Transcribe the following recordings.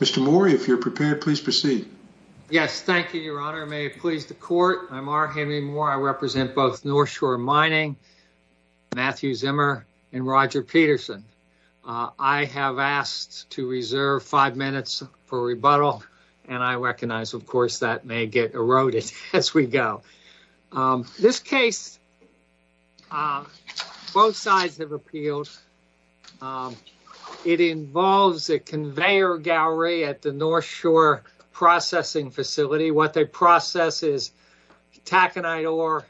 Mr. Morey, if you're prepared, please proceed. Yes, thank you, Your Honor. May it please the Court. I'm R. Henry Morey. I represent both Northshore Mining, Matthew Zimmer, and Roger Peterson. I have asked to reserve five minutes for rebuttal, and I recognize, of course, that may get at the Northshore Processing Facility. What they process is taconite ore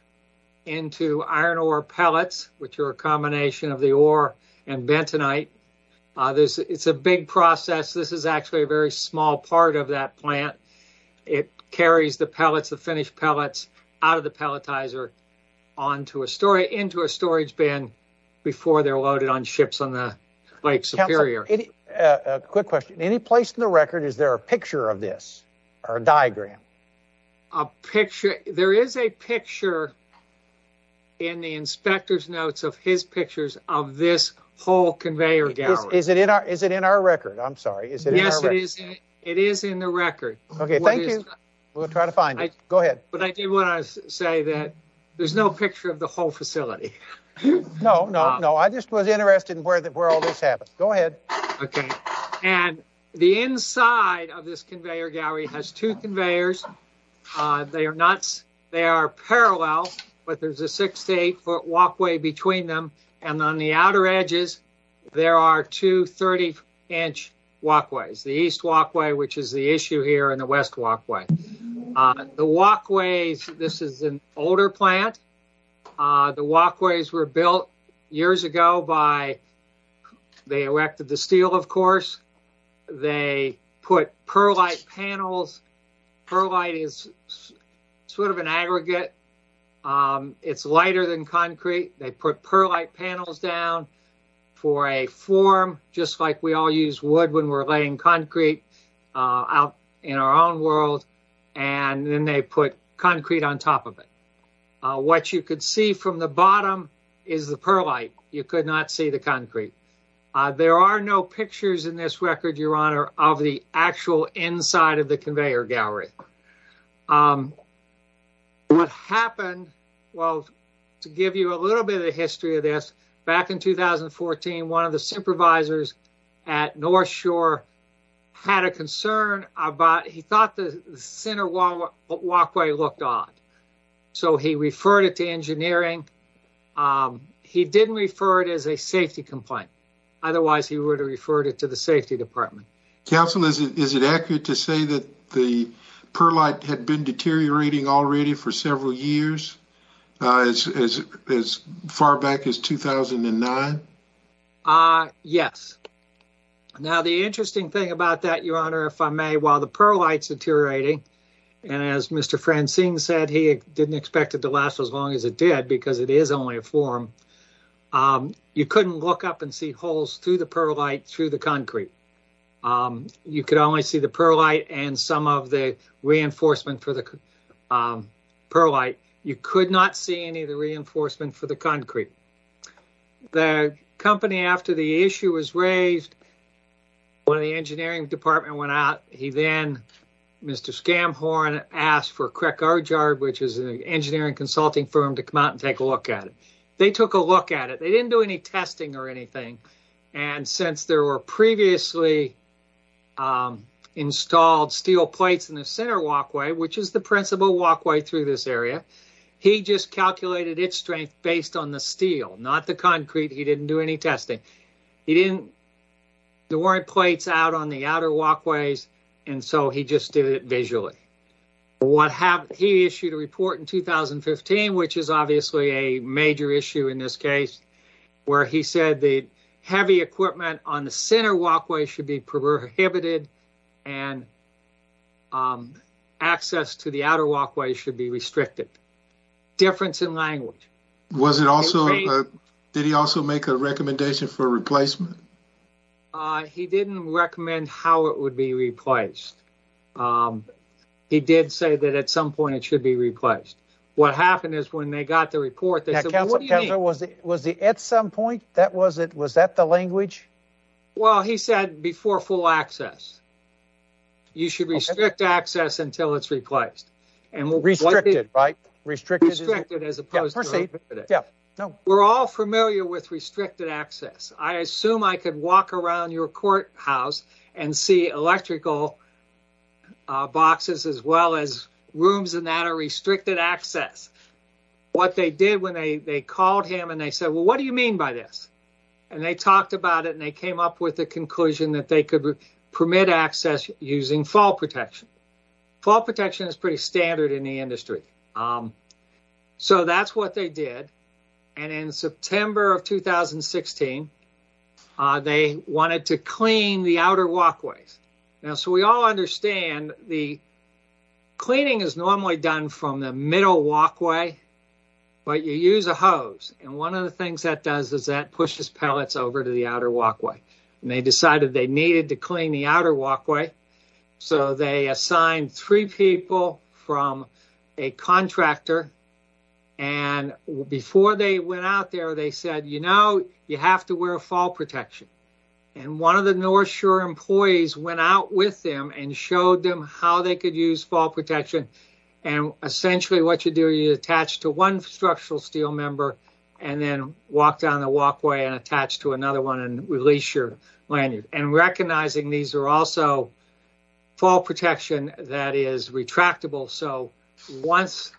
into iron ore pellets, which are a combination of the ore and bentonite. It's a big process. This is actually a very small part of that plant. It carries the pellets, the finished pellets, out of the pelletizer into a storage bin before they're loaded on ships on the Lake Superior. A quick question. Any place in the record, is there a picture of this or a diagram? A picture? There is a picture in the inspector's notes of his pictures of this whole conveyor gallery. Is it in our record? I'm sorry. Yes, it is in the record. Okay, thank you. We'll try to find it. Go ahead. But I do want to say that there's no picture of the whole facility. No, no, no. I just was interested in where all this happened. Go ahead. Okay, and the inside of this conveyor gallery has two conveyors. They are nuts. They are parallel, but there's a six to eight foot walkway between them, and on the outer edges, there are two 30-inch walkways. The east walkway, which is the issue here, and the west walkway. The walkways, this is an older plant. The walkways were built years ago by, they erected the steel, of course. They put perlite panels. Perlite is sort of an aggregate. It's lighter than concrete. They put perlite panels down for a form, just like we all use when we're laying concrete out in our own world, and then they put concrete on top of it. What you could see from the bottom is the perlite. You could not see the concrete. There are no pictures in this record, Your Honor, of the actual inside of the conveyor gallery. What happened, well, to give you a little bit of history of this, back in 2014, one of the engineers at Westshore had a concern about, he thought the center walkway looked odd, so he referred it to engineering. He didn't refer it as a safety complaint. Otherwise, he would have referred it to the safety department. Counsel, is it accurate to say that the perlite had been deteriorating already for several years, as far back as 2009? Uh, yes. Now, the interesting thing about that, Your Honor, if I may, while the perlite's deteriorating, and as Mr. Francine said, he didn't expect it to last as long as it did, because it is only a form, you couldn't look up and see holes through the perlite through the concrete. You could only see the perlite and some of the reinforcement for the perlite. You could not see any of the reinforcement for the concrete. The company, after the issue was raised, when the engineering department went out, he then, Mr. Scamhorn, asked for Crick Argyard, which is an engineering consulting firm, to come out and take a look at it. They took a look at it. They didn't do any testing or anything, and since there were previously installed steel plates in the center walkway, which is the principal walkway through this area, he just calculated its strength based on the steel, not the concrete. He didn't do any testing. There weren't plates out on the outer walkways, and so he just did it visually. He issued a report in 2015, which is obviously a major issue in this case, where he said the heavy equipment on the center walkway should be prohibited and access to the outer walkway should be restricted. Difference in language. Did he also make a recommendation for replacement? He didn't recommend how it would be replaced. He did say that at some point it should be replaced. What happened is when they got the report, they said, what do you mean? Was it at some point? Was that the language? Well, he said before full access, you should restrict access until it's replaced. Restricted, right? We're all familiar with restricted access. I assume I could walk around your courthouse and see electrical boxes as well as rooms and that are restricted access. What they did when they called him and they said, well, what do you mean by this? They talked about it and they came up with the conclusion that they could permit access using fall protection. Fall protection is pretty standard in the industry. That's what they did. In September of 2016, they wanted to clean the outer walkways. We all understand the cleaning is normally done from the middle walkway, but you use a hose. One of the things that does is that pushes pellets over to the outer walkway. They decided they needed to clean the outer walkway. They assigned three people from a contractor and before they went out there, they said, you have to wear fall protection. One of the North Shore employees went out with them and showed them how they could use fall protection. Essentially, what you do, you attach to one structural steel member and then walk down the walkway and attach to another one and release your lanyard. Recognizing these are also fall protection that is retractable. Once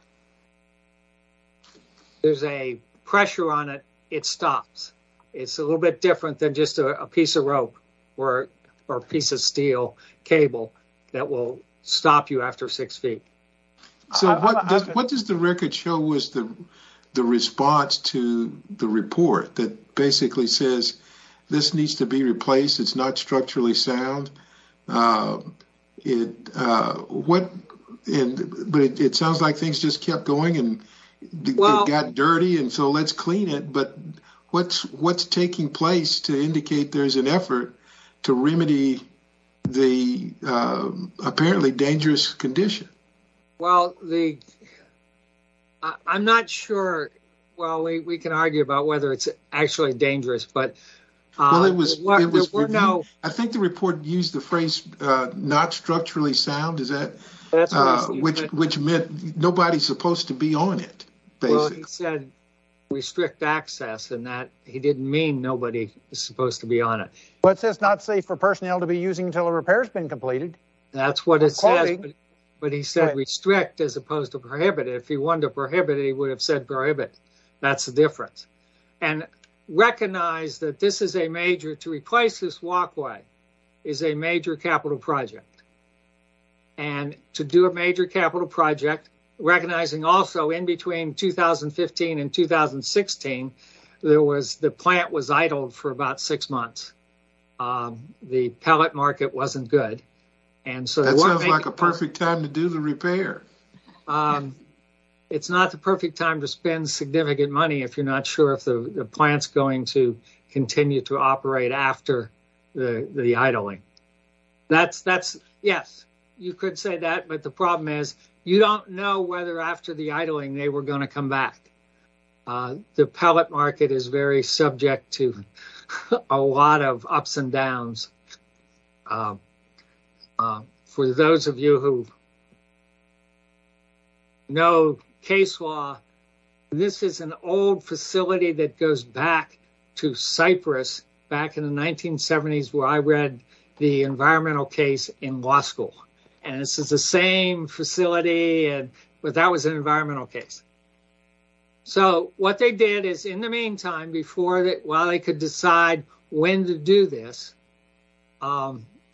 there's a pressure on it, it stops. It's a little bit different than just a piece of rope or a piece of steel cable that will stop you after six feet. What does the record show was the response to the report that basically says this needs to be replaced? It's not structurally sound. It sounds like things just kept going and got dirty and so let's clean it. What's taking place to indicate there's an effort to remedy the apparently dangerous condition? I'm not sure we can argue about whether it's actually dangerous. I think the report used the phrase not structurally sound, which meant nobody's supposed to be on it. He said restrict access and that he didn't mean nobody is supposed to be on it. It says not safe for personnel to be using until a repair has been completed. That's what it says, but he said restrict as opposed to prohibit. If he wanted to prohibit, he would have said prohibit. That's the difference. Recognize that this is a major, to replace this walkway is a major capital project. To do a major capital project, recognizing also in between 2015 and 2016, the plant was idle for about six months. The pellet market wasn't good. That sounds like a perfect time to do the repair. It's not the perfect time to spend significant money if you're not sure if the plant's going to continue to operate after the idling. Yes, you could say that, but the problem is you don't know whether after the idling they were going to come back. The pellet market is very subject to a lot of ups and downs. For those of you who don't know case law, this is an old facility that goes back to Cyprus back in the 1970s where I read the environmental case in law school. This is the same facility, but that was an environmental case. What they did is in the meantime, while they could decide when to do this,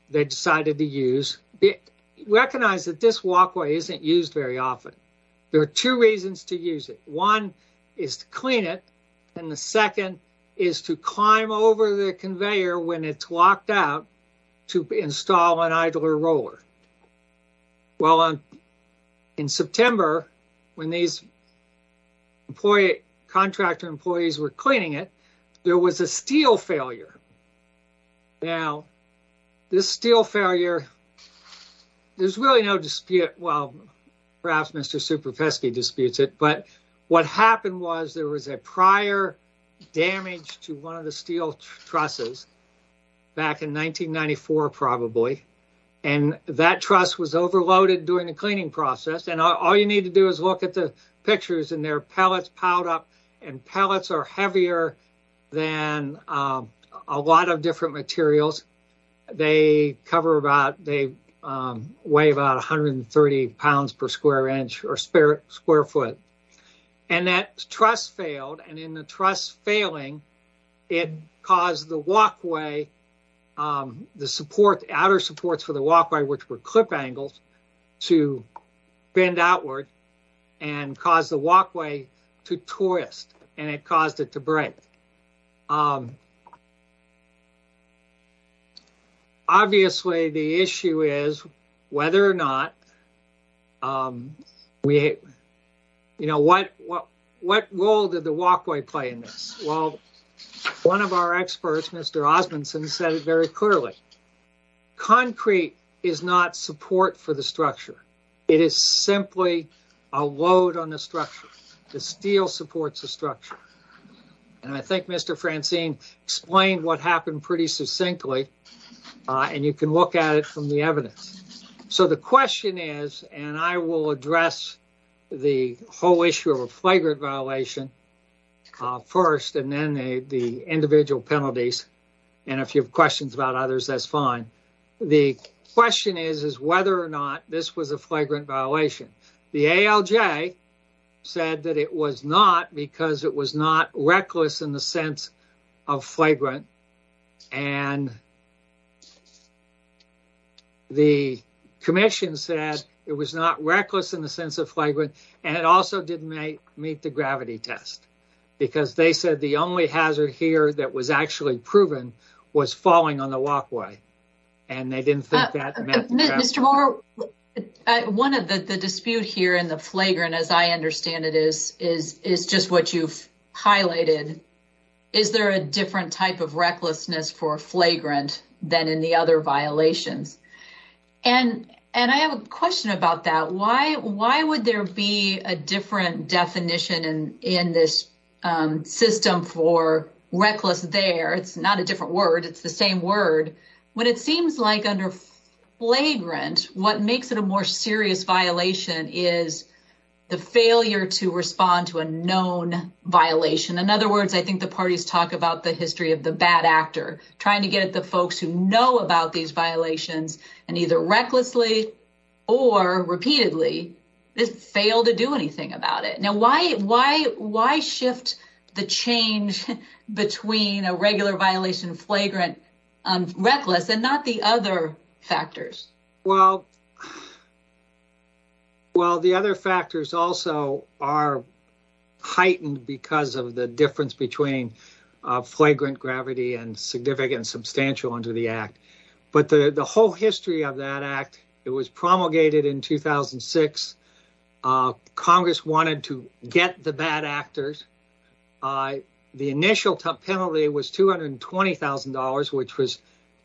they decided to use it. Recognize that this walkway isn't used very often. There are two reasons to use it. One is to clean it. The second is to climb over the conveyor when it's locked out to install an idler roller. In September, when these contractor employees were cleaning it, there was a steel failure. Now, this steel failure, there's really no dispute. Well, perhaps Mr. Superfesky disputes it, but what happened was there was a prior damage to one of the steel trusses back in 1994 probably. That truss was overloaded during the cleaning process. All you need to do is look at the piled up. Pellets are heavier than a lot of different materials. They weigh about 130 pounds per square inch or square foot. That truss failed. In the truss failing, it caused the walkway, outer supports for the walkway, which were clip angles, to bend outward and cause the walkway to twist and it caused it to break. Obviously, the issue is whether or not we, you know, what role did the walkway play in this? Well, one of our experts, Mr. Osmundson, said it very clearly. Concrete is not support for the structure. It is simply a load on the structure. The steel supports the structure. I think Mr. Francine explained what happened pretty succinctly and you can look at it from the evidence. The question is, and I will address the whole issue of a flagrant violation first and then the individual penalties. If you have questions about others, that's fine. The question is, is whether or not this was a flagrant violation. The ALJ said that it was not because it was not reckless in the sense of flagrant and the commission said it was not reckless in the sense of flagrant and it also didn't meet the gravity test because they said the only hazard here that was actually proven was falling on the walkway and they didn't think that. Mr. Moore, one of the disputes here in the flagrant, as I understand it, is just what you've highlighted. Is there a different type of recklessness for flagrant than in the other violations? I have a question about that. Why would there be a different definition in this system for reckless there? It's not a different word, it's the same word. When it seems like under flagrant, what makes it a more serious violation is the failure to respond to a known violation. In other words, I think the parties talk about the history of the bad actor trying to get the folks who know about these violations and either recklessly or repeatedly fail to do anything about it. Why shift the change between a regular violation of flagrant reckless and not the other factors? The other factors also are heightened because of the difference between flagrant gravity and significant and substantial under the act. The whole history of that act was promulgated in 2006. Congress wanted to get the bad actors. The initial penalty was $220,000, which was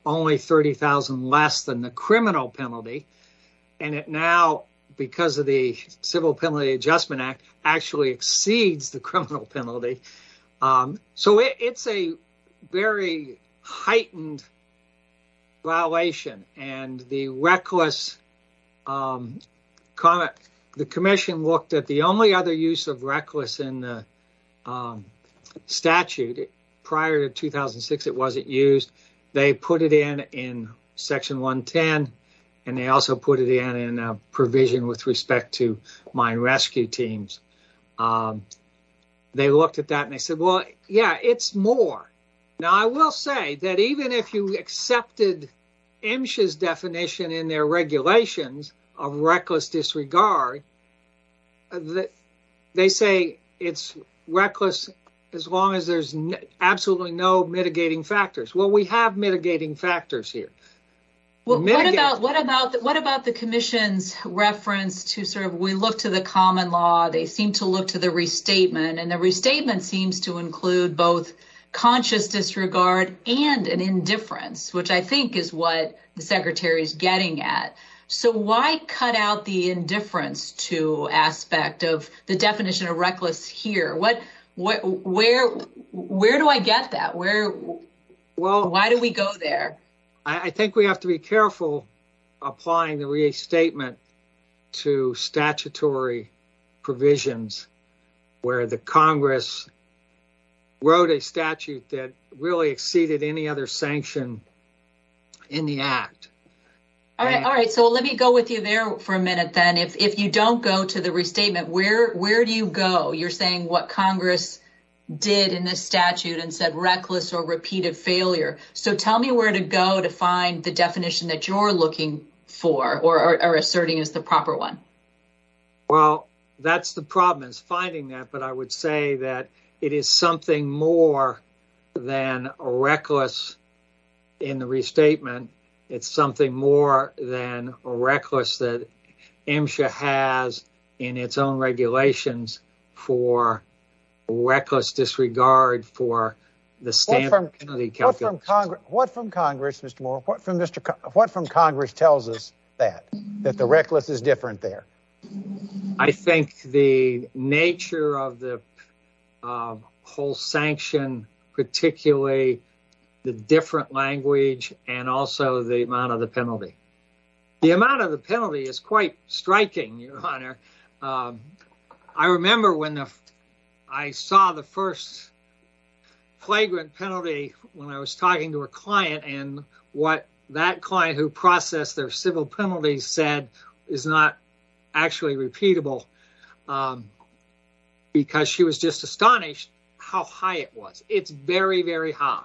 only $30,000 less than the criminal penalty. It now, because of the Civil Penalty Adjustment Act, actually exceeds the criminal penalty. It's a very heightened violation. The commission looked at the only other use of reckless in the statute. Prior to 2006, it wasn't used. They put it in section 110. They also put it in a with respect to mine rescue teams. They looked at that and said, well, yeah, it's more. Now, I will say that even if you accepted MSHA's definition in their regulations of reckless disregard, they say it's reckless as long as there's absolutely no mitigating factors. Well, we have mitigating factors here. What about the commission's reference to the common law? They seem to look to the restatement. The restatement seems to include both conscious disregard and an indifference, which I think is what the secretary is getting at. Why cut out the indifference aspect of the definition of reckless here? Where do I get that? Well, why do we go there? I think we have to be careful applying the restatement to statutory provisions where the Congress wrote a statute that really exceeded any other sanction in the act. All right. All right. So let me go with you there for a minute then. If you don't go to the restatement, where do you go? You're saying what Congress did in this statute and said reckless or repeated failure. So tell me where to go to find the definition that you're looking for or are asserting is the proper one. Well, that's the problem is finding that. But I would say that it is something more than reckless in the restatement. It's something more than standard penalty calculation. What from Congress, Mr. Moore, what from Congress tells us that, that the reckless is different there? I think the nature of the whole sanction, particularly the different language and also the amount of the penalty. The amount of the penalty is quite penalty. When I was talking to a client and what that client who processed their civil penalties said is not actually repeatable because she was just astonished how high it was. It's very, very high.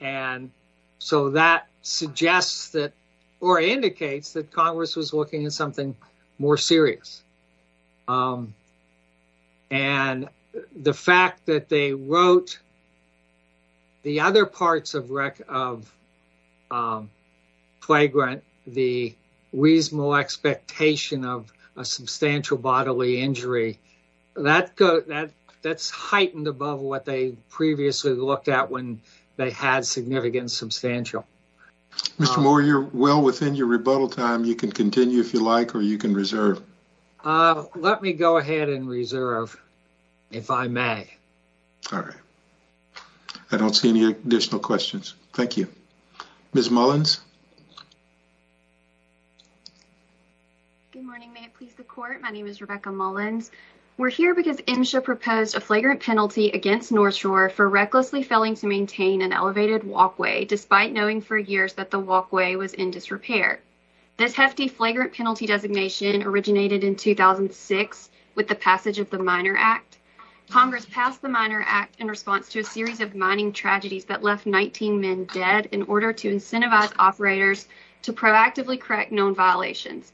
And so that suggests that or indicates that Congress was looking at something more than that. And so, quote, the other parts of the reasonable expectation of a substantial bodily injury, that's heightened above what they previously looked at when they had significant substantial. Mr. Moore, you're well within your rebuttal time. You can continue if you like, or you can reserve. Let me go ahead and reserve, if I may. All right. I don't see any additional questions. Thank you. Ms. Mullins. Good morning. May it please the court. My name is Rebecca Mullins. We're here because MSHA proposed a flagrant penalty against North Shore for recklessly failing to maintain an elevated walkway despite knowing for years that the walkway was in disrepair. This hefty flagrant penalty designation originated in 2006 with the passage of the Miner Act. Congress passed the Miner Act in response to a series of mining tragedies that left 19 men dead in order to incentivize operators to proactively correct known violations.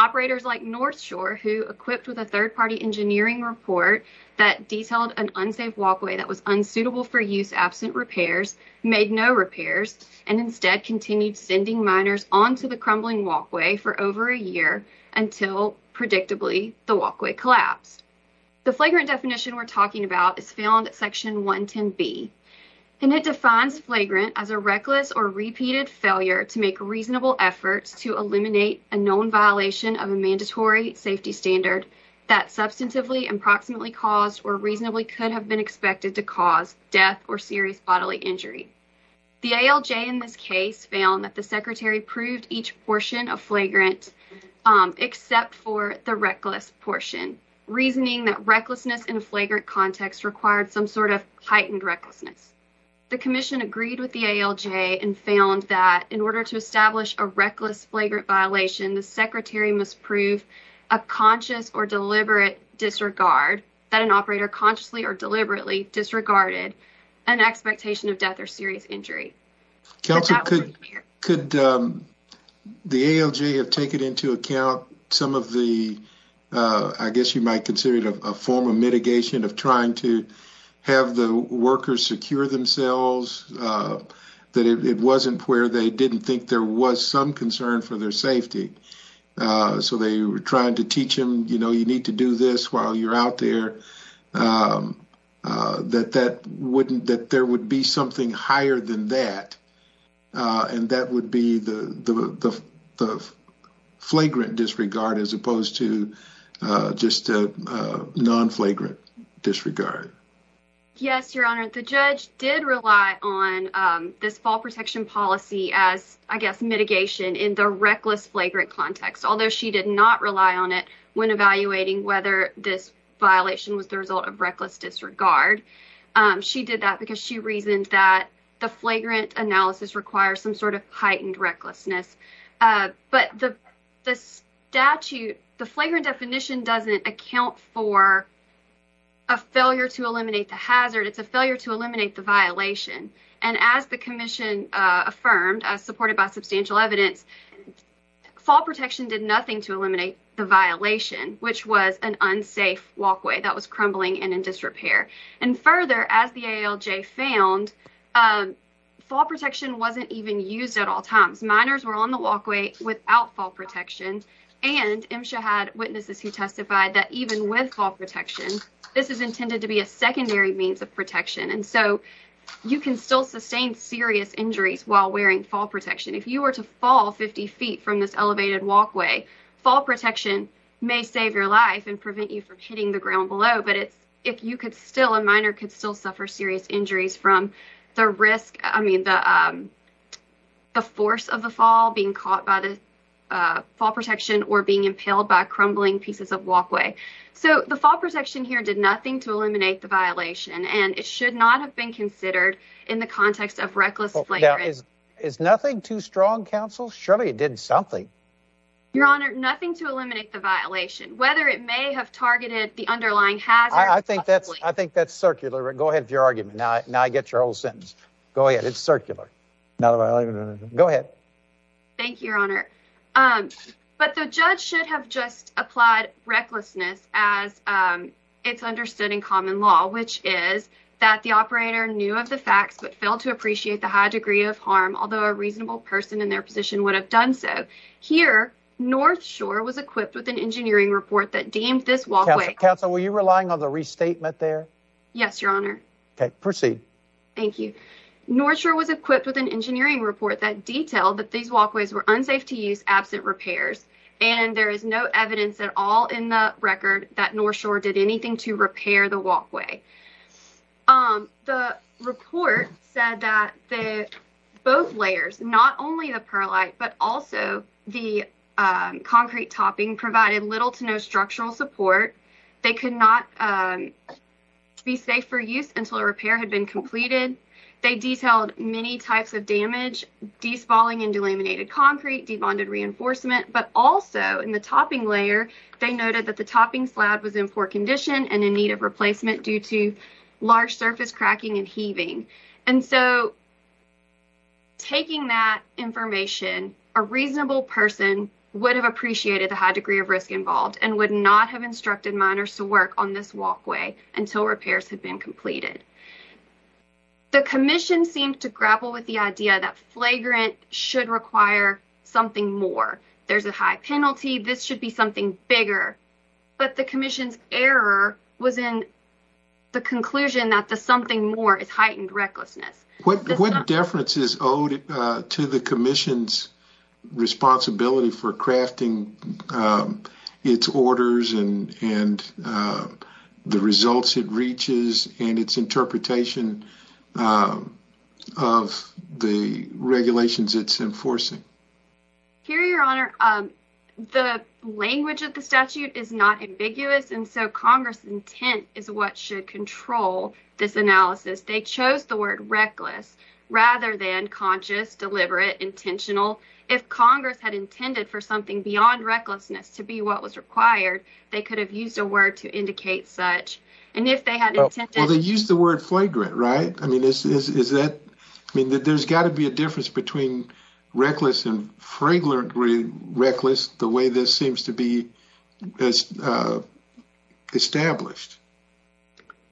Operators like North Shore, who equipped with a third-party engineering report that detailed an unsafe walkway that was unsuitable for use absent repairs, made no repairs, and instead continued sending miners onto the crumbling walkway for over a year until, predictably, the walkway collapsed. The flagrant definition we're talking about is found at Section 110B, and it defines flagrant as a reckless or repeated failure to make reasonable efforts to eliminate a known violation of a mandatory safety standard that substantively, approximately caused, or reasonably could have been expected to cause death or serious bodily injury. The ALJ in this case found that the Secretary proved each portion of flagrant except for the reckless portion, reasoning that recklessness in a flagrant context required some sort of heightened recklessness. The Commission agreed with the ALJ and found that in order to establish a reckless flagrant violation, the Secretary must prove a conscious or deliberate disregard that an operator consciously or deliberately committed a crime. The ALJ have taken into account some of the, I guess you might consider it a form of mitigation of trying to have the workers secure themselves, that it wasn't where they didn't think there was some concern for their safety. So they were trying to teach them, you know, you need to do this while you're out there, that that wouldn't, that there would be something higher than that, and that would be the flagrant disregard as opposed to just a non-flagrant disregard. Yes, Your Honor, the judge did rely on this fall protection policy as, I guess, mitigation in the reckless flagrant context, although she did not rely on it when evaluating whether this the flagrant analysis requires some sort of heightened recklessness. But the statute, the flagrant definition doesn't account for a failure to eliminate the hazard, it's a failure to eliminate the violation. And as the Commission affirmed, as supported by substantial evidence, fall protection did nothing to eliminate the violation, which was an unsafe walkway that was crumbling and in disrepair. And further, as the ALJ found, fall protection wasn't even used at all times. Minors were on the walkway without fall protection, and MSHA had witnesses who testified that even with fall protection, this is intended to be a secondary means of protection, and so you can still sustain serious injuries while wearing fall protection. If you were to fall 50 feet from this elevated walkway, fall protection may save your life and prevent you from hitting the ground below, but it's, if you could still, a minor could still suffer serious injuries from the risk, I mean, the force of the fall, being caught by the fall protection, or being impaled by crumbling pieces of walkway. So the fall protection here did nothing to eliminate the violation, and it should not have been considered in the context of reckless flagrant. Now, is nothing too strong, counsel? Surely it did something. Your honor, nothing to eliminate the violation, whether it may have targeted the underlying hazard. I think that's, I think that's circular. Go ahead with your argument. Now I get your whole sentence. Go ahead. It's circular. Go ahead. Thank you, your honor. But the judge should have just applied recklessness as it's understood in common law, which is that the operator knew of the facts but failed to appreciate the high degree of harm, although a reasonable person in their would have done so. Here, North Shore was equipped with an engineering report that deemed this walkway. Counsel, were you relying on the restatement there? Yes, your honor. Okay, proceed. Thank you. North Shore was equipped with an engineering report that detailed that these walkways were unsafe to use, absent repairs, and there is no evidence at all in the record that North Shore did anything to repair the walkway. The report said that the both layers, not only the perlite but also the concrete topping, provided little to no structural support. They could not be safe for use until a repair had been completed. They detailed many types of damage, de-spalling and delaminated concrete, de-bonded reinforcement, but also in the topping layer, they noted that the topping slab was in poor condition and in need of replacement due to information. A reasonable person would have appreciated the high degree of risk involved and would not have instructed miners to work on this walkway until repairs had been completed. The commission seemed to grapple with the idea that flagrant should require something more. There's a high penalty. This should be something bigger, but the commission's error was in the commission's responsibility for crafting its orders and the results it reaches and its interpretation of the regulations it's enforcing. Here, Your Honor, the language of the statute is not ambiguous, and so Congress' intent is what should control this analysis. They chose the intentional. If Congress had intended for something beyond recklessness to be what was required, they could have used a word to indicate such. Well, they used the word flagrant, right? I mean, there's got to be a difference between reckless and fragile and reckless, the way this seems to be established.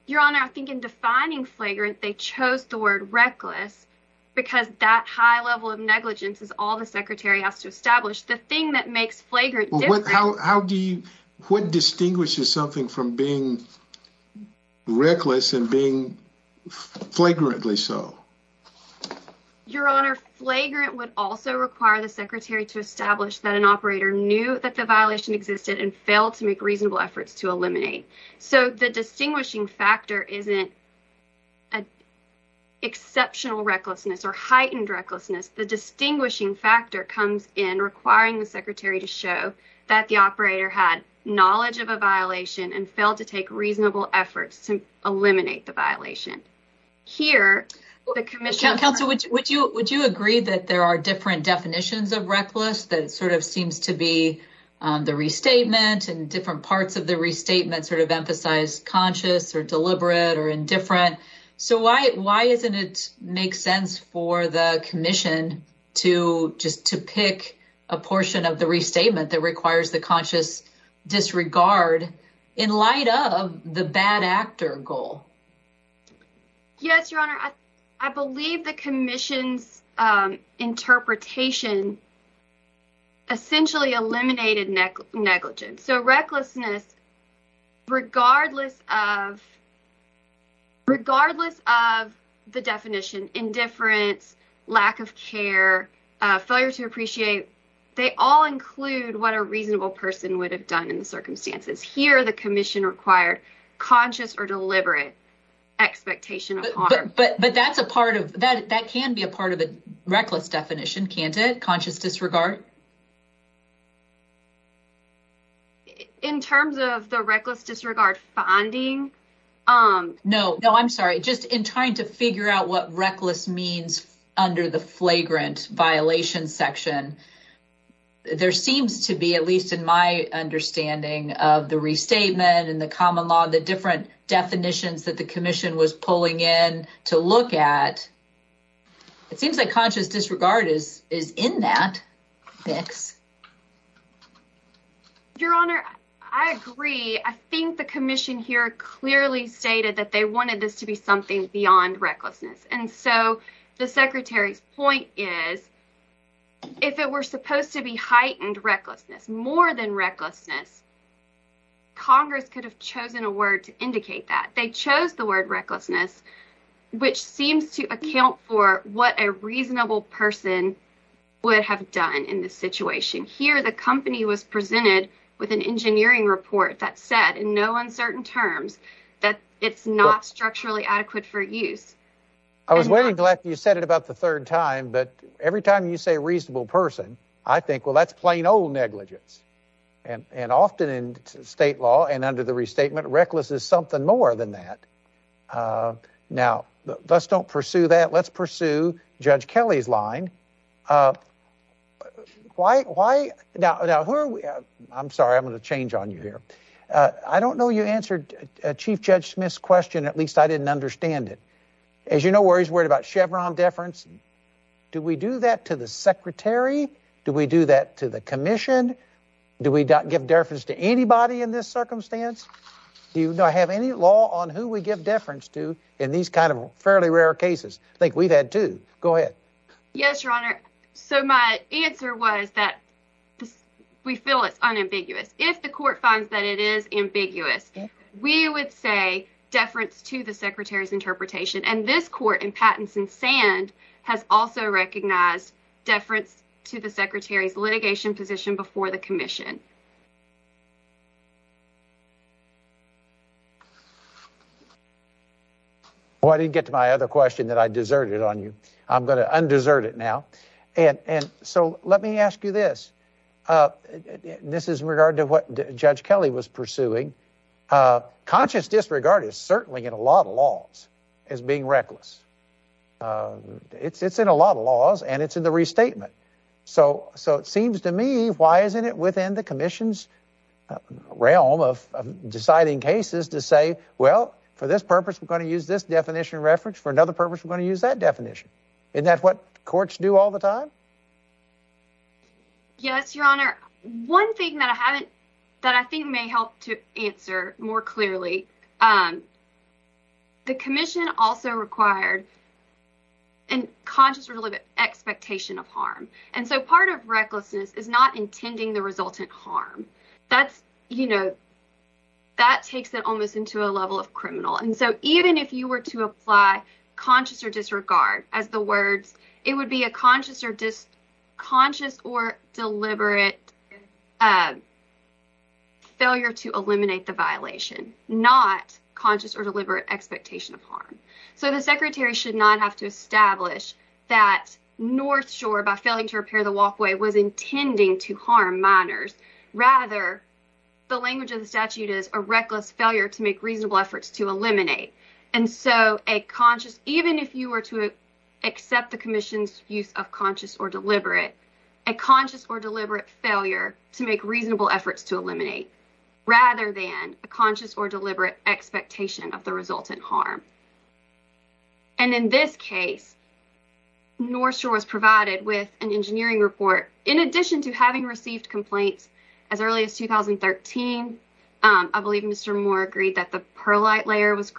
Your Honor, I think in defining flagrant, they chose the word reckless because that high level of negligence is all the secretary has to establish. The thing that makes flagrant different... What distinguishes something from being reckless and being flagrantly so? Your Honor, flagrant would also require the secretary to establish that an operator knew that the violation existed and failed to make reasonable efforts to eliminate. So, the distinguishing factor isn't an exceptional recklessness or heightened recklessness. The distinguishing factor comes in requiring the secretary to show that the operator had knowledge of a violation and failed to take reasonable efforts to eliminate the violation. Here, the commission... Counsel, would you agree that there are different definitions of reckless that sort of seems to be the restatement and different parts of the restatement sort of emphasize conscious or deliberate or indifferent? So, why doesn't it make sense for the commission to just to pick a portion of the restatement that requires the conscious disregard in light of the bad actor goal? Yes, Your Honor. I believe the commission's interpretation essentially eliminated negligence. So, recklessness, regardless of the definition, indifference, lack of care, failure to appreciate, they all include what a reasonable person would have done in the circumstances. Here, the commission required conscious or deliberate expectation of harm. But that's a part of... That can be a part of reckless definition, can't it? Conscious disregard. In terms of the reckless disregard funding... No, I'm sorry. Just in trying to figure out what reckless means under the flagrant violation section, there seems to be, at least in my understanding of the restatement and the common law, the different definitions that the commission was pulling in to look at, it seems like conscious disregard is in that fix. Your Honor, I agree. I think the commission here clearly stated that they wanted this to be something beyond recklessness. And so, the secretary's point is, if it were supposed to be heightened recklessness, more than recklessness, Congress could have chosen a word to indicate that. They chose the word recklessness, which seems to account for what a reasonable person would have done in this situation. Here, the company was presented with an engineering report that said, in no uncertain terms, that it's not structurally adequate for use. I was really glad you said it about the third time, but every time you say reasonable person, I think, well, that's plain old negligence. And often in state law and under the restatement, recklessness is something more than that. Now, let's don't pursue that. Let's pursue Judge Kelly's line. Why? Now, who are we? I'm sorry. I'm going to change on you here. I don't know you answered Chief Judge Smith's question. At least I didn't understand it. As you know, where he's worried about Chevron deference. Do we do that to the secretary? Do we do that to the commission? Do we give deference to anybody in this circumstance? Do you have any law on who we give deference to in these kind of fairly rare cases? I think we've had two. Go ahead. Yes, your honor. So my answer was that we feel it's unambiguous. If the court finds that it is ambiguous, we would say deference to the secretary's interpretation. And this court in Pattinson Sand has also recognized deference to the secretary's litigation position before the commission. Well, I didn't get to my other question that I deserted on you. I'm going to undesert it now. And so let me ask you this. This is in regard to what Judge Kelly was pursuing. A conscious disregard is certainly in a lot of laws as being reckless. It's it's in a lot of laws and it's in the restatement. So so it seems to me why isn't it within the commission's realm of deciding cases to say, well, for this purpose, we're going to use this definition reference for another purpose. We're going to use that definition. And that's what courts do all the time. Yes, your honor. One thing that I haven't that I think may help to answer more clearly. The commission also required. And conscious, really the expectation of harm. And so part of recklessness is not intending the resultant harm. That's, you know. That takes it almost into a level of criminal. And so even if you were to apply conscious or disregard as the words, it would be a conscious or just conscious or deliberate failure to eliminate the violation, not conscious or deliberate expectation of harm. So the secretary should not have to establish that North Shore, by failing to repair the walkway, was intending to harm minors. Rather, the language of the statute is a reckless failure to make use of conscious or deliberate, a conscious or deliberate failure to make reasonable efforts to eliminate, rather than a conscious or deliberate expectation of the resultant harm. And in this case, North Shore was provided with an engineering report in addition to having received complaints as early as 2013. I believe Mr. Moore agreed that the perlite layer was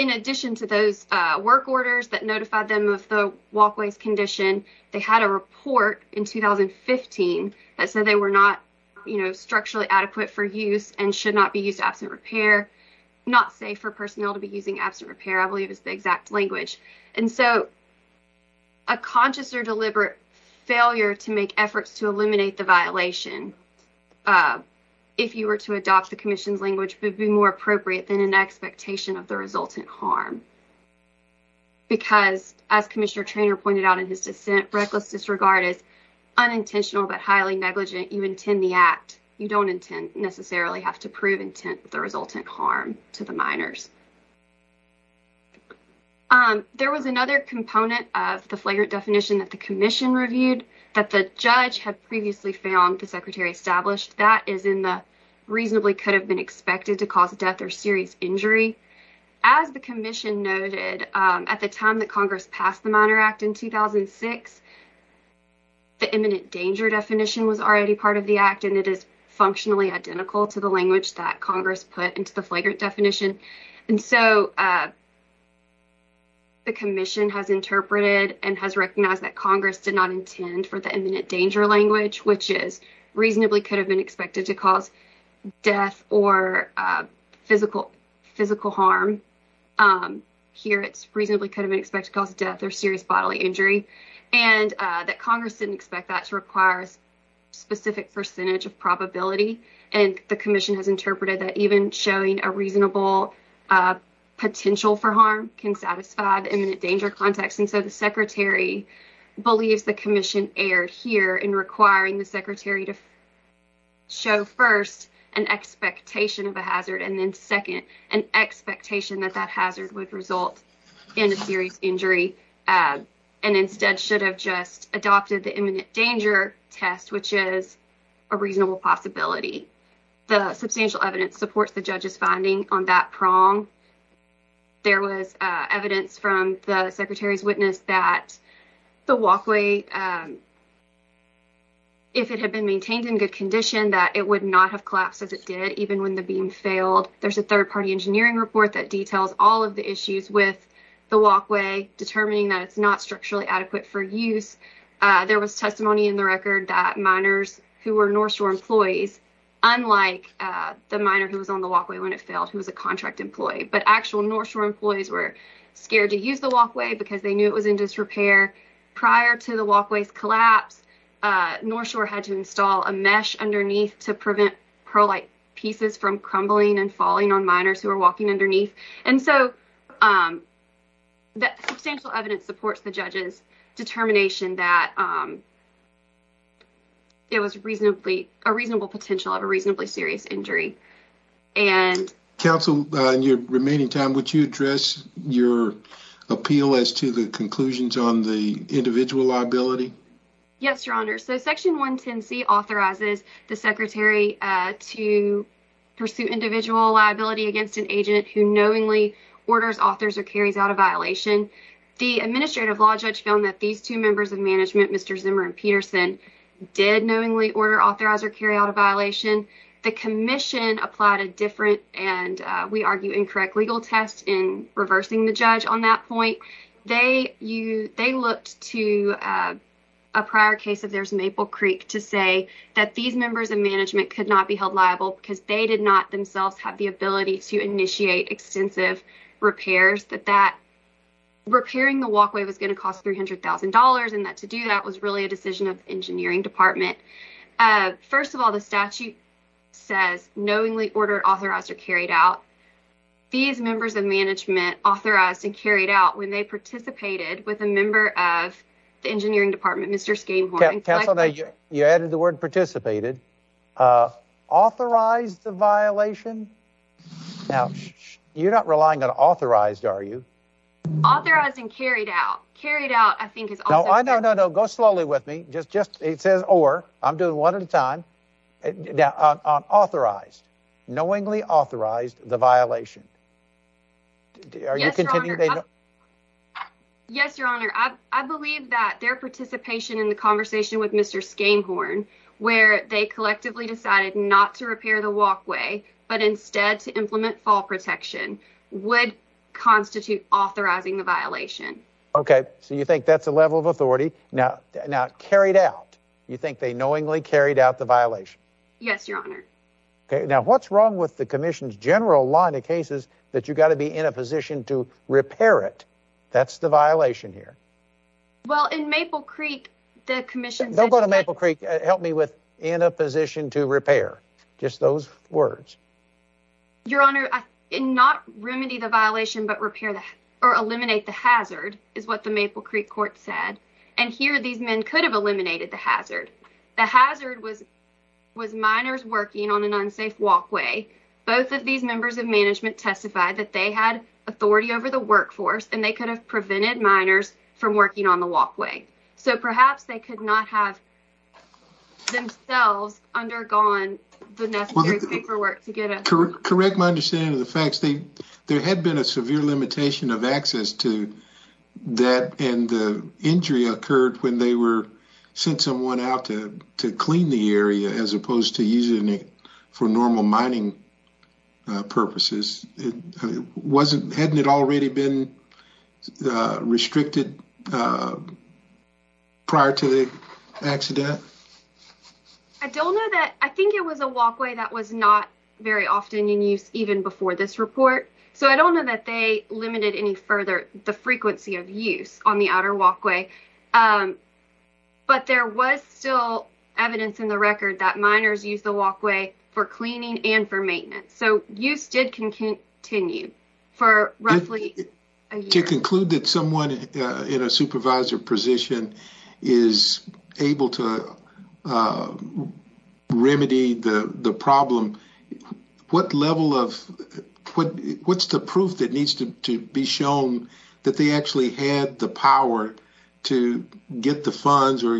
in addition to those work orders that notified them of the walkways condition. They had a report in 2015 that said they were not, you know, structurally adequate for use and should not be used absent repair, not safe for personnel to be using absent repair, I believe is the exact language. And so a conscious or deliberate failure to make efforts to eliminate the violation, if you were to adopt the commission's language, would be more appropriate than an expectation of resultant harm. Because as Commissioner Treanor pointed out in his dissent, reckless disregard is unintentional but highly negligent. You intend the act. You don't necessarily have to prove intent the resultant harm to the minors. There was another component of the flagrant definition that the commission reviewed that the judge had previously found the secretary established. That is in the reasonably could have been expected to cause death or serious injury. As the commission noted, at the time that Congress passed the Minor Act in 2006, the imminent danger definition was already part of the act and it is functionally identical to the language that Congress put into the flagrant definition. And so the commission has interpreted and has recognized that Congress did not intend for the imminent danger language, which is reasonably could have been expected to cause death or physical physical harm. Here, it's reasonably could have been expected to cause death or serious bodily injury and that Congress didn't expect that to require a specific percentage of probability. And the commission has interpreted that even showing a reasonable potential for harm can satisfy the imminent danger context. And so the secretary believes the commission erred here in requiring the secretary to show first an expectation of a hazard and then second an expectation that that hazard would result in a serious injury and instead should have just adopted the imminent danger test, which is a reasonable possibility. The substantial evidence supports the judge's finding on that prong. There was evidence from the secretary's witness that the walkway, if it had been maintained in good condition, that it would not have collapsed as it did, even when the beam failed. There's a third-party engineering report that details all of the issues with the walkway, determining that it's not structurally adequate for use. There was testimony in the record that miners who were North Shore employees, unlike the miner who was on the walkway when it failed, who was a contract employee, but actual North Shore employees were scared to use the walkway because they knew it was in collapse. North Shore had to install a mesh underneath to prevent pearlite pieces from crumbling and falling on miners who were walking underneath. And so the substantial evidence supports the judge's determination that it was a reasonable potential of a reasonably serious injury. And counsel, in your remaining time, would you address your appeal as to the conclusions on individual liability? Yes, Your Honor. So Section 110C authorizes the secretary to pursue individual liability against an agent who knowingly orders, authors, or carries out a violation. The administrative law judge found that these two members of management, Mr. Zimmer and Peterson, did knowingly order, authorize, or carry out a violation. The commission applied a different and we argue incorrect legal test in reversing the judge on that point. They looked to a prior case of theirs, Maple Creek, to say that these members of management could not be held liable because they did not themselves have the ability to initiate extensive repairs. That repairing the walkway was going to cost $300,000 and that to do that was really a decision of the engineering department. First of all, the statute says knowingly ordered, authorized, or carried out. These members of management authorized and carried out when they participated with a member of the engineering department, Mr. Skanehorn. Counsel, you added the word participated. Authorized the violation? Now you're not relying on authorized, are you? Authorized and carried out. Carried out, I think. No, no, no, no. Go slowly with me. It says or. I'm doing one at a time. Authorized, knowingly authorized the violation. Yes, your honor. I believe that their participation in the conversation with Mr. Skanehorn, where they collectively decided not to repair the walkway, but instead to implement fall protection, would constitute authorizing the violation. OK, so you think that's a level of authority now now carried out? You think they knowingly carried out the violation? Yes, your honor. OK, now what's wrong with the commission's general line of cases that you've got to be in a position to repair it? That's the violation here. Well, in Maple Creek, the commission don't go to Maple Creek. Help me with in a position to repair just those words. Your honor, not remedy the violation, but repair or eliminate the hazard is what the Maple Creek court said. And here these men could have eliminated the hazard. The hazard was was minors working on an unsafe walkway. Both of these members of management testified that they had authority over the workforce and they could have prevented minors from working on the walkway. So perhaps they could not have themselves undergone the necessary paperwork to get it. Correct my understanding of the facts. There had been a severe limitation of access to that and the injury occurred when they were sent someone out to to clean the area as opposed to using it for normal mining purposes. It wasn't hadn't it already been restricted prior to the accident? I don't know that I think it was a walkway that was not very often in use even before this report. So I don't know that they limited any further the frequency of use on the outer walkway. But there was still evidence in the record that minors use the walkway for cleaning and for continued for roughly a year. To conclude that someone in a supervisor position is able to remedy the the problem what level of what what's the proof that needs to to be shown that they actually had the power to get the funds or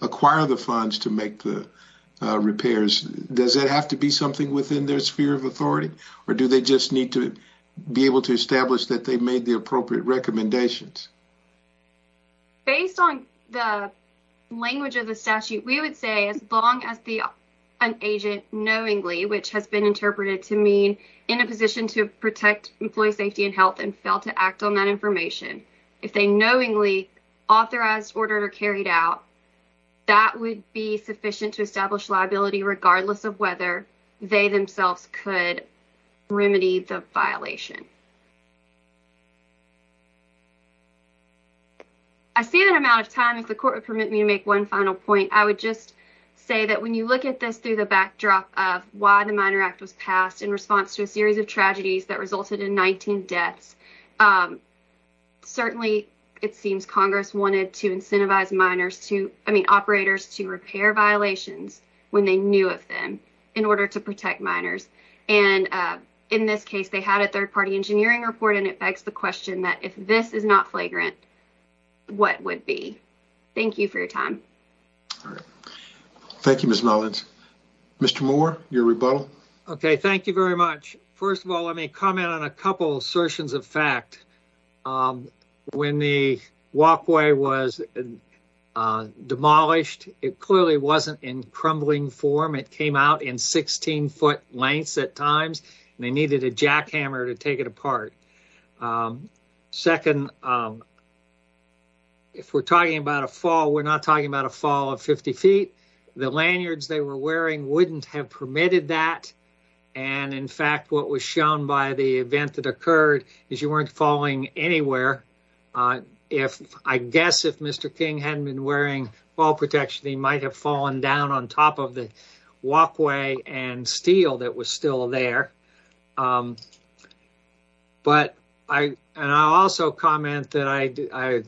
acquire the funds to make the does that have to be something within their sphere of authority or do they just need to be able to establish that they made the appropriate recommendations? Based on the language of the statute we would say as long as the an agent knowingly which has been interpreted to mean in a position to protect employee safety and health and fail to act on that information if they knowingly authorized ordered or carried out that would be sufficient to establish liability regardless of whether they themselves could remedy the violation. I see that amount of time if the court would permit me to make one final point I would just say that when you look at this through the backdrop of why the Minor Act was passed in response to a series of tragedies that resulted in 19 deaths certainly it seems wanted to incentivize miners to I mean operators to repair violations when they knew of them in order to protect miners and in this case they had a third party engineering report and it begs the question that if this is not flagrant what would be? Thank you for your time. All right thank you Ms. Mullins. Mr. Moore your rebuttal. Okay thank you very much first of all let me comment on a was demolished it clearly wasn't in crumbling form it came out in 16 foot lengths at times and they needed a jackhammer to take it apart. Second if we're talking about a fall we're not talking about a fall of 50 feet the lanyards they were wearing wouldn't have permitted that and in fact what was shown by the event that occurred is you weren't falling anywhere on if I guess if Mr. King hadn't been wearing fall protection he might have fallen down on top of the walkway and steel that was still there but I and I'll also comment that I do I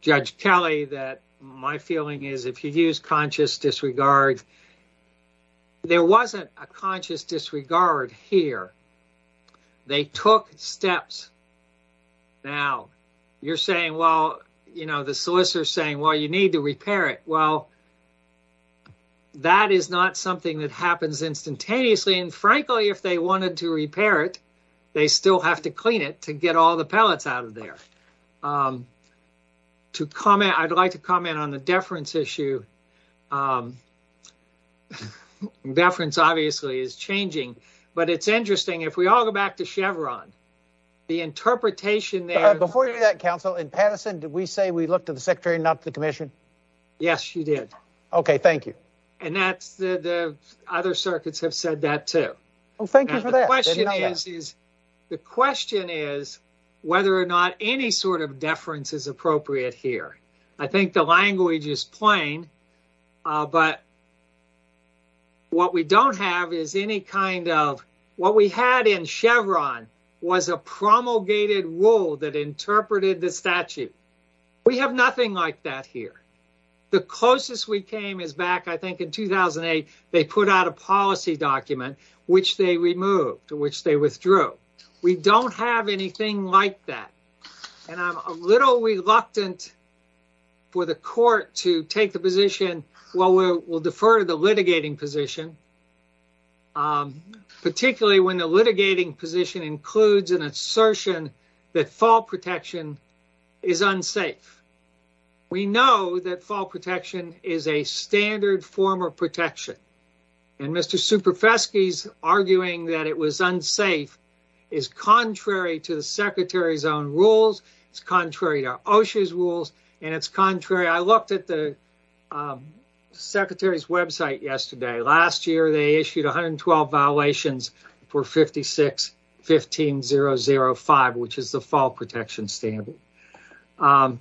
judge Kelly that my feeling is if you use conscious disregard there wasn't a conscious disregard here they took steps now you're saying well you know the solicitor is saying well you need to repair it well that is not something that happens instantaneously and frankly if they wanted to repair it they still have to clean it to get all the pellets out of there. To comment I'd like comment on the deference issue. Deference obviously is changing but it's interesting if we all go back to Chevron the interpretation there. Before you do that counsel in Patterson did we say we looked at the secretary not the commission? Yes you did. Okay thank you. And that's the the other circuits have said that too. Oh thank you for that. The question is whether or not any sort of deference is appropriate here. I think the language is plain but what we don't have is any kind of what we had in Chevron was a promulgated rule that interpreted the statute. We have nothing like that here. The closest we came is back I think in 2008 they put out a policy document which they removed which they withdrew. We don't have anything like that and I'm a little reluctant for the court to take the position well we'll defer to the litigating position particularly when the litigating position includes an assertion that fall protection is unsafe. We know that fall protection is a standard form of protection and Mr. Superfesky's arguing that it was unsafe is contrary to the secretary's own rules. It's contrary to OSHA's rules and it's contrary. I looked at the secretary's website yesterday. Last year they issued 112 violations for 56-15005 which is the fall protection standard. I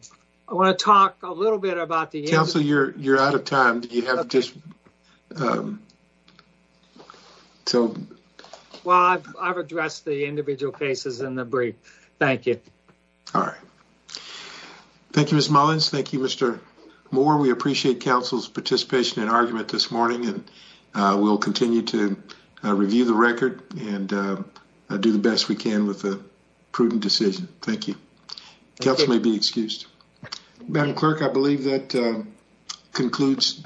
want to talk a little bit about the council. You're out of time. Do you have just anything to add? Well I've addressed the individual cases in the brief. Thank you. All right. Thank you Ms. Mullins. Thank you Mr. Moore. We appreciate council's participation and argument this morning and we'll continue to review the record and do the best we can with a prudent decision. Thank you. Council may be excused. Madam Clerk I believe that concludes.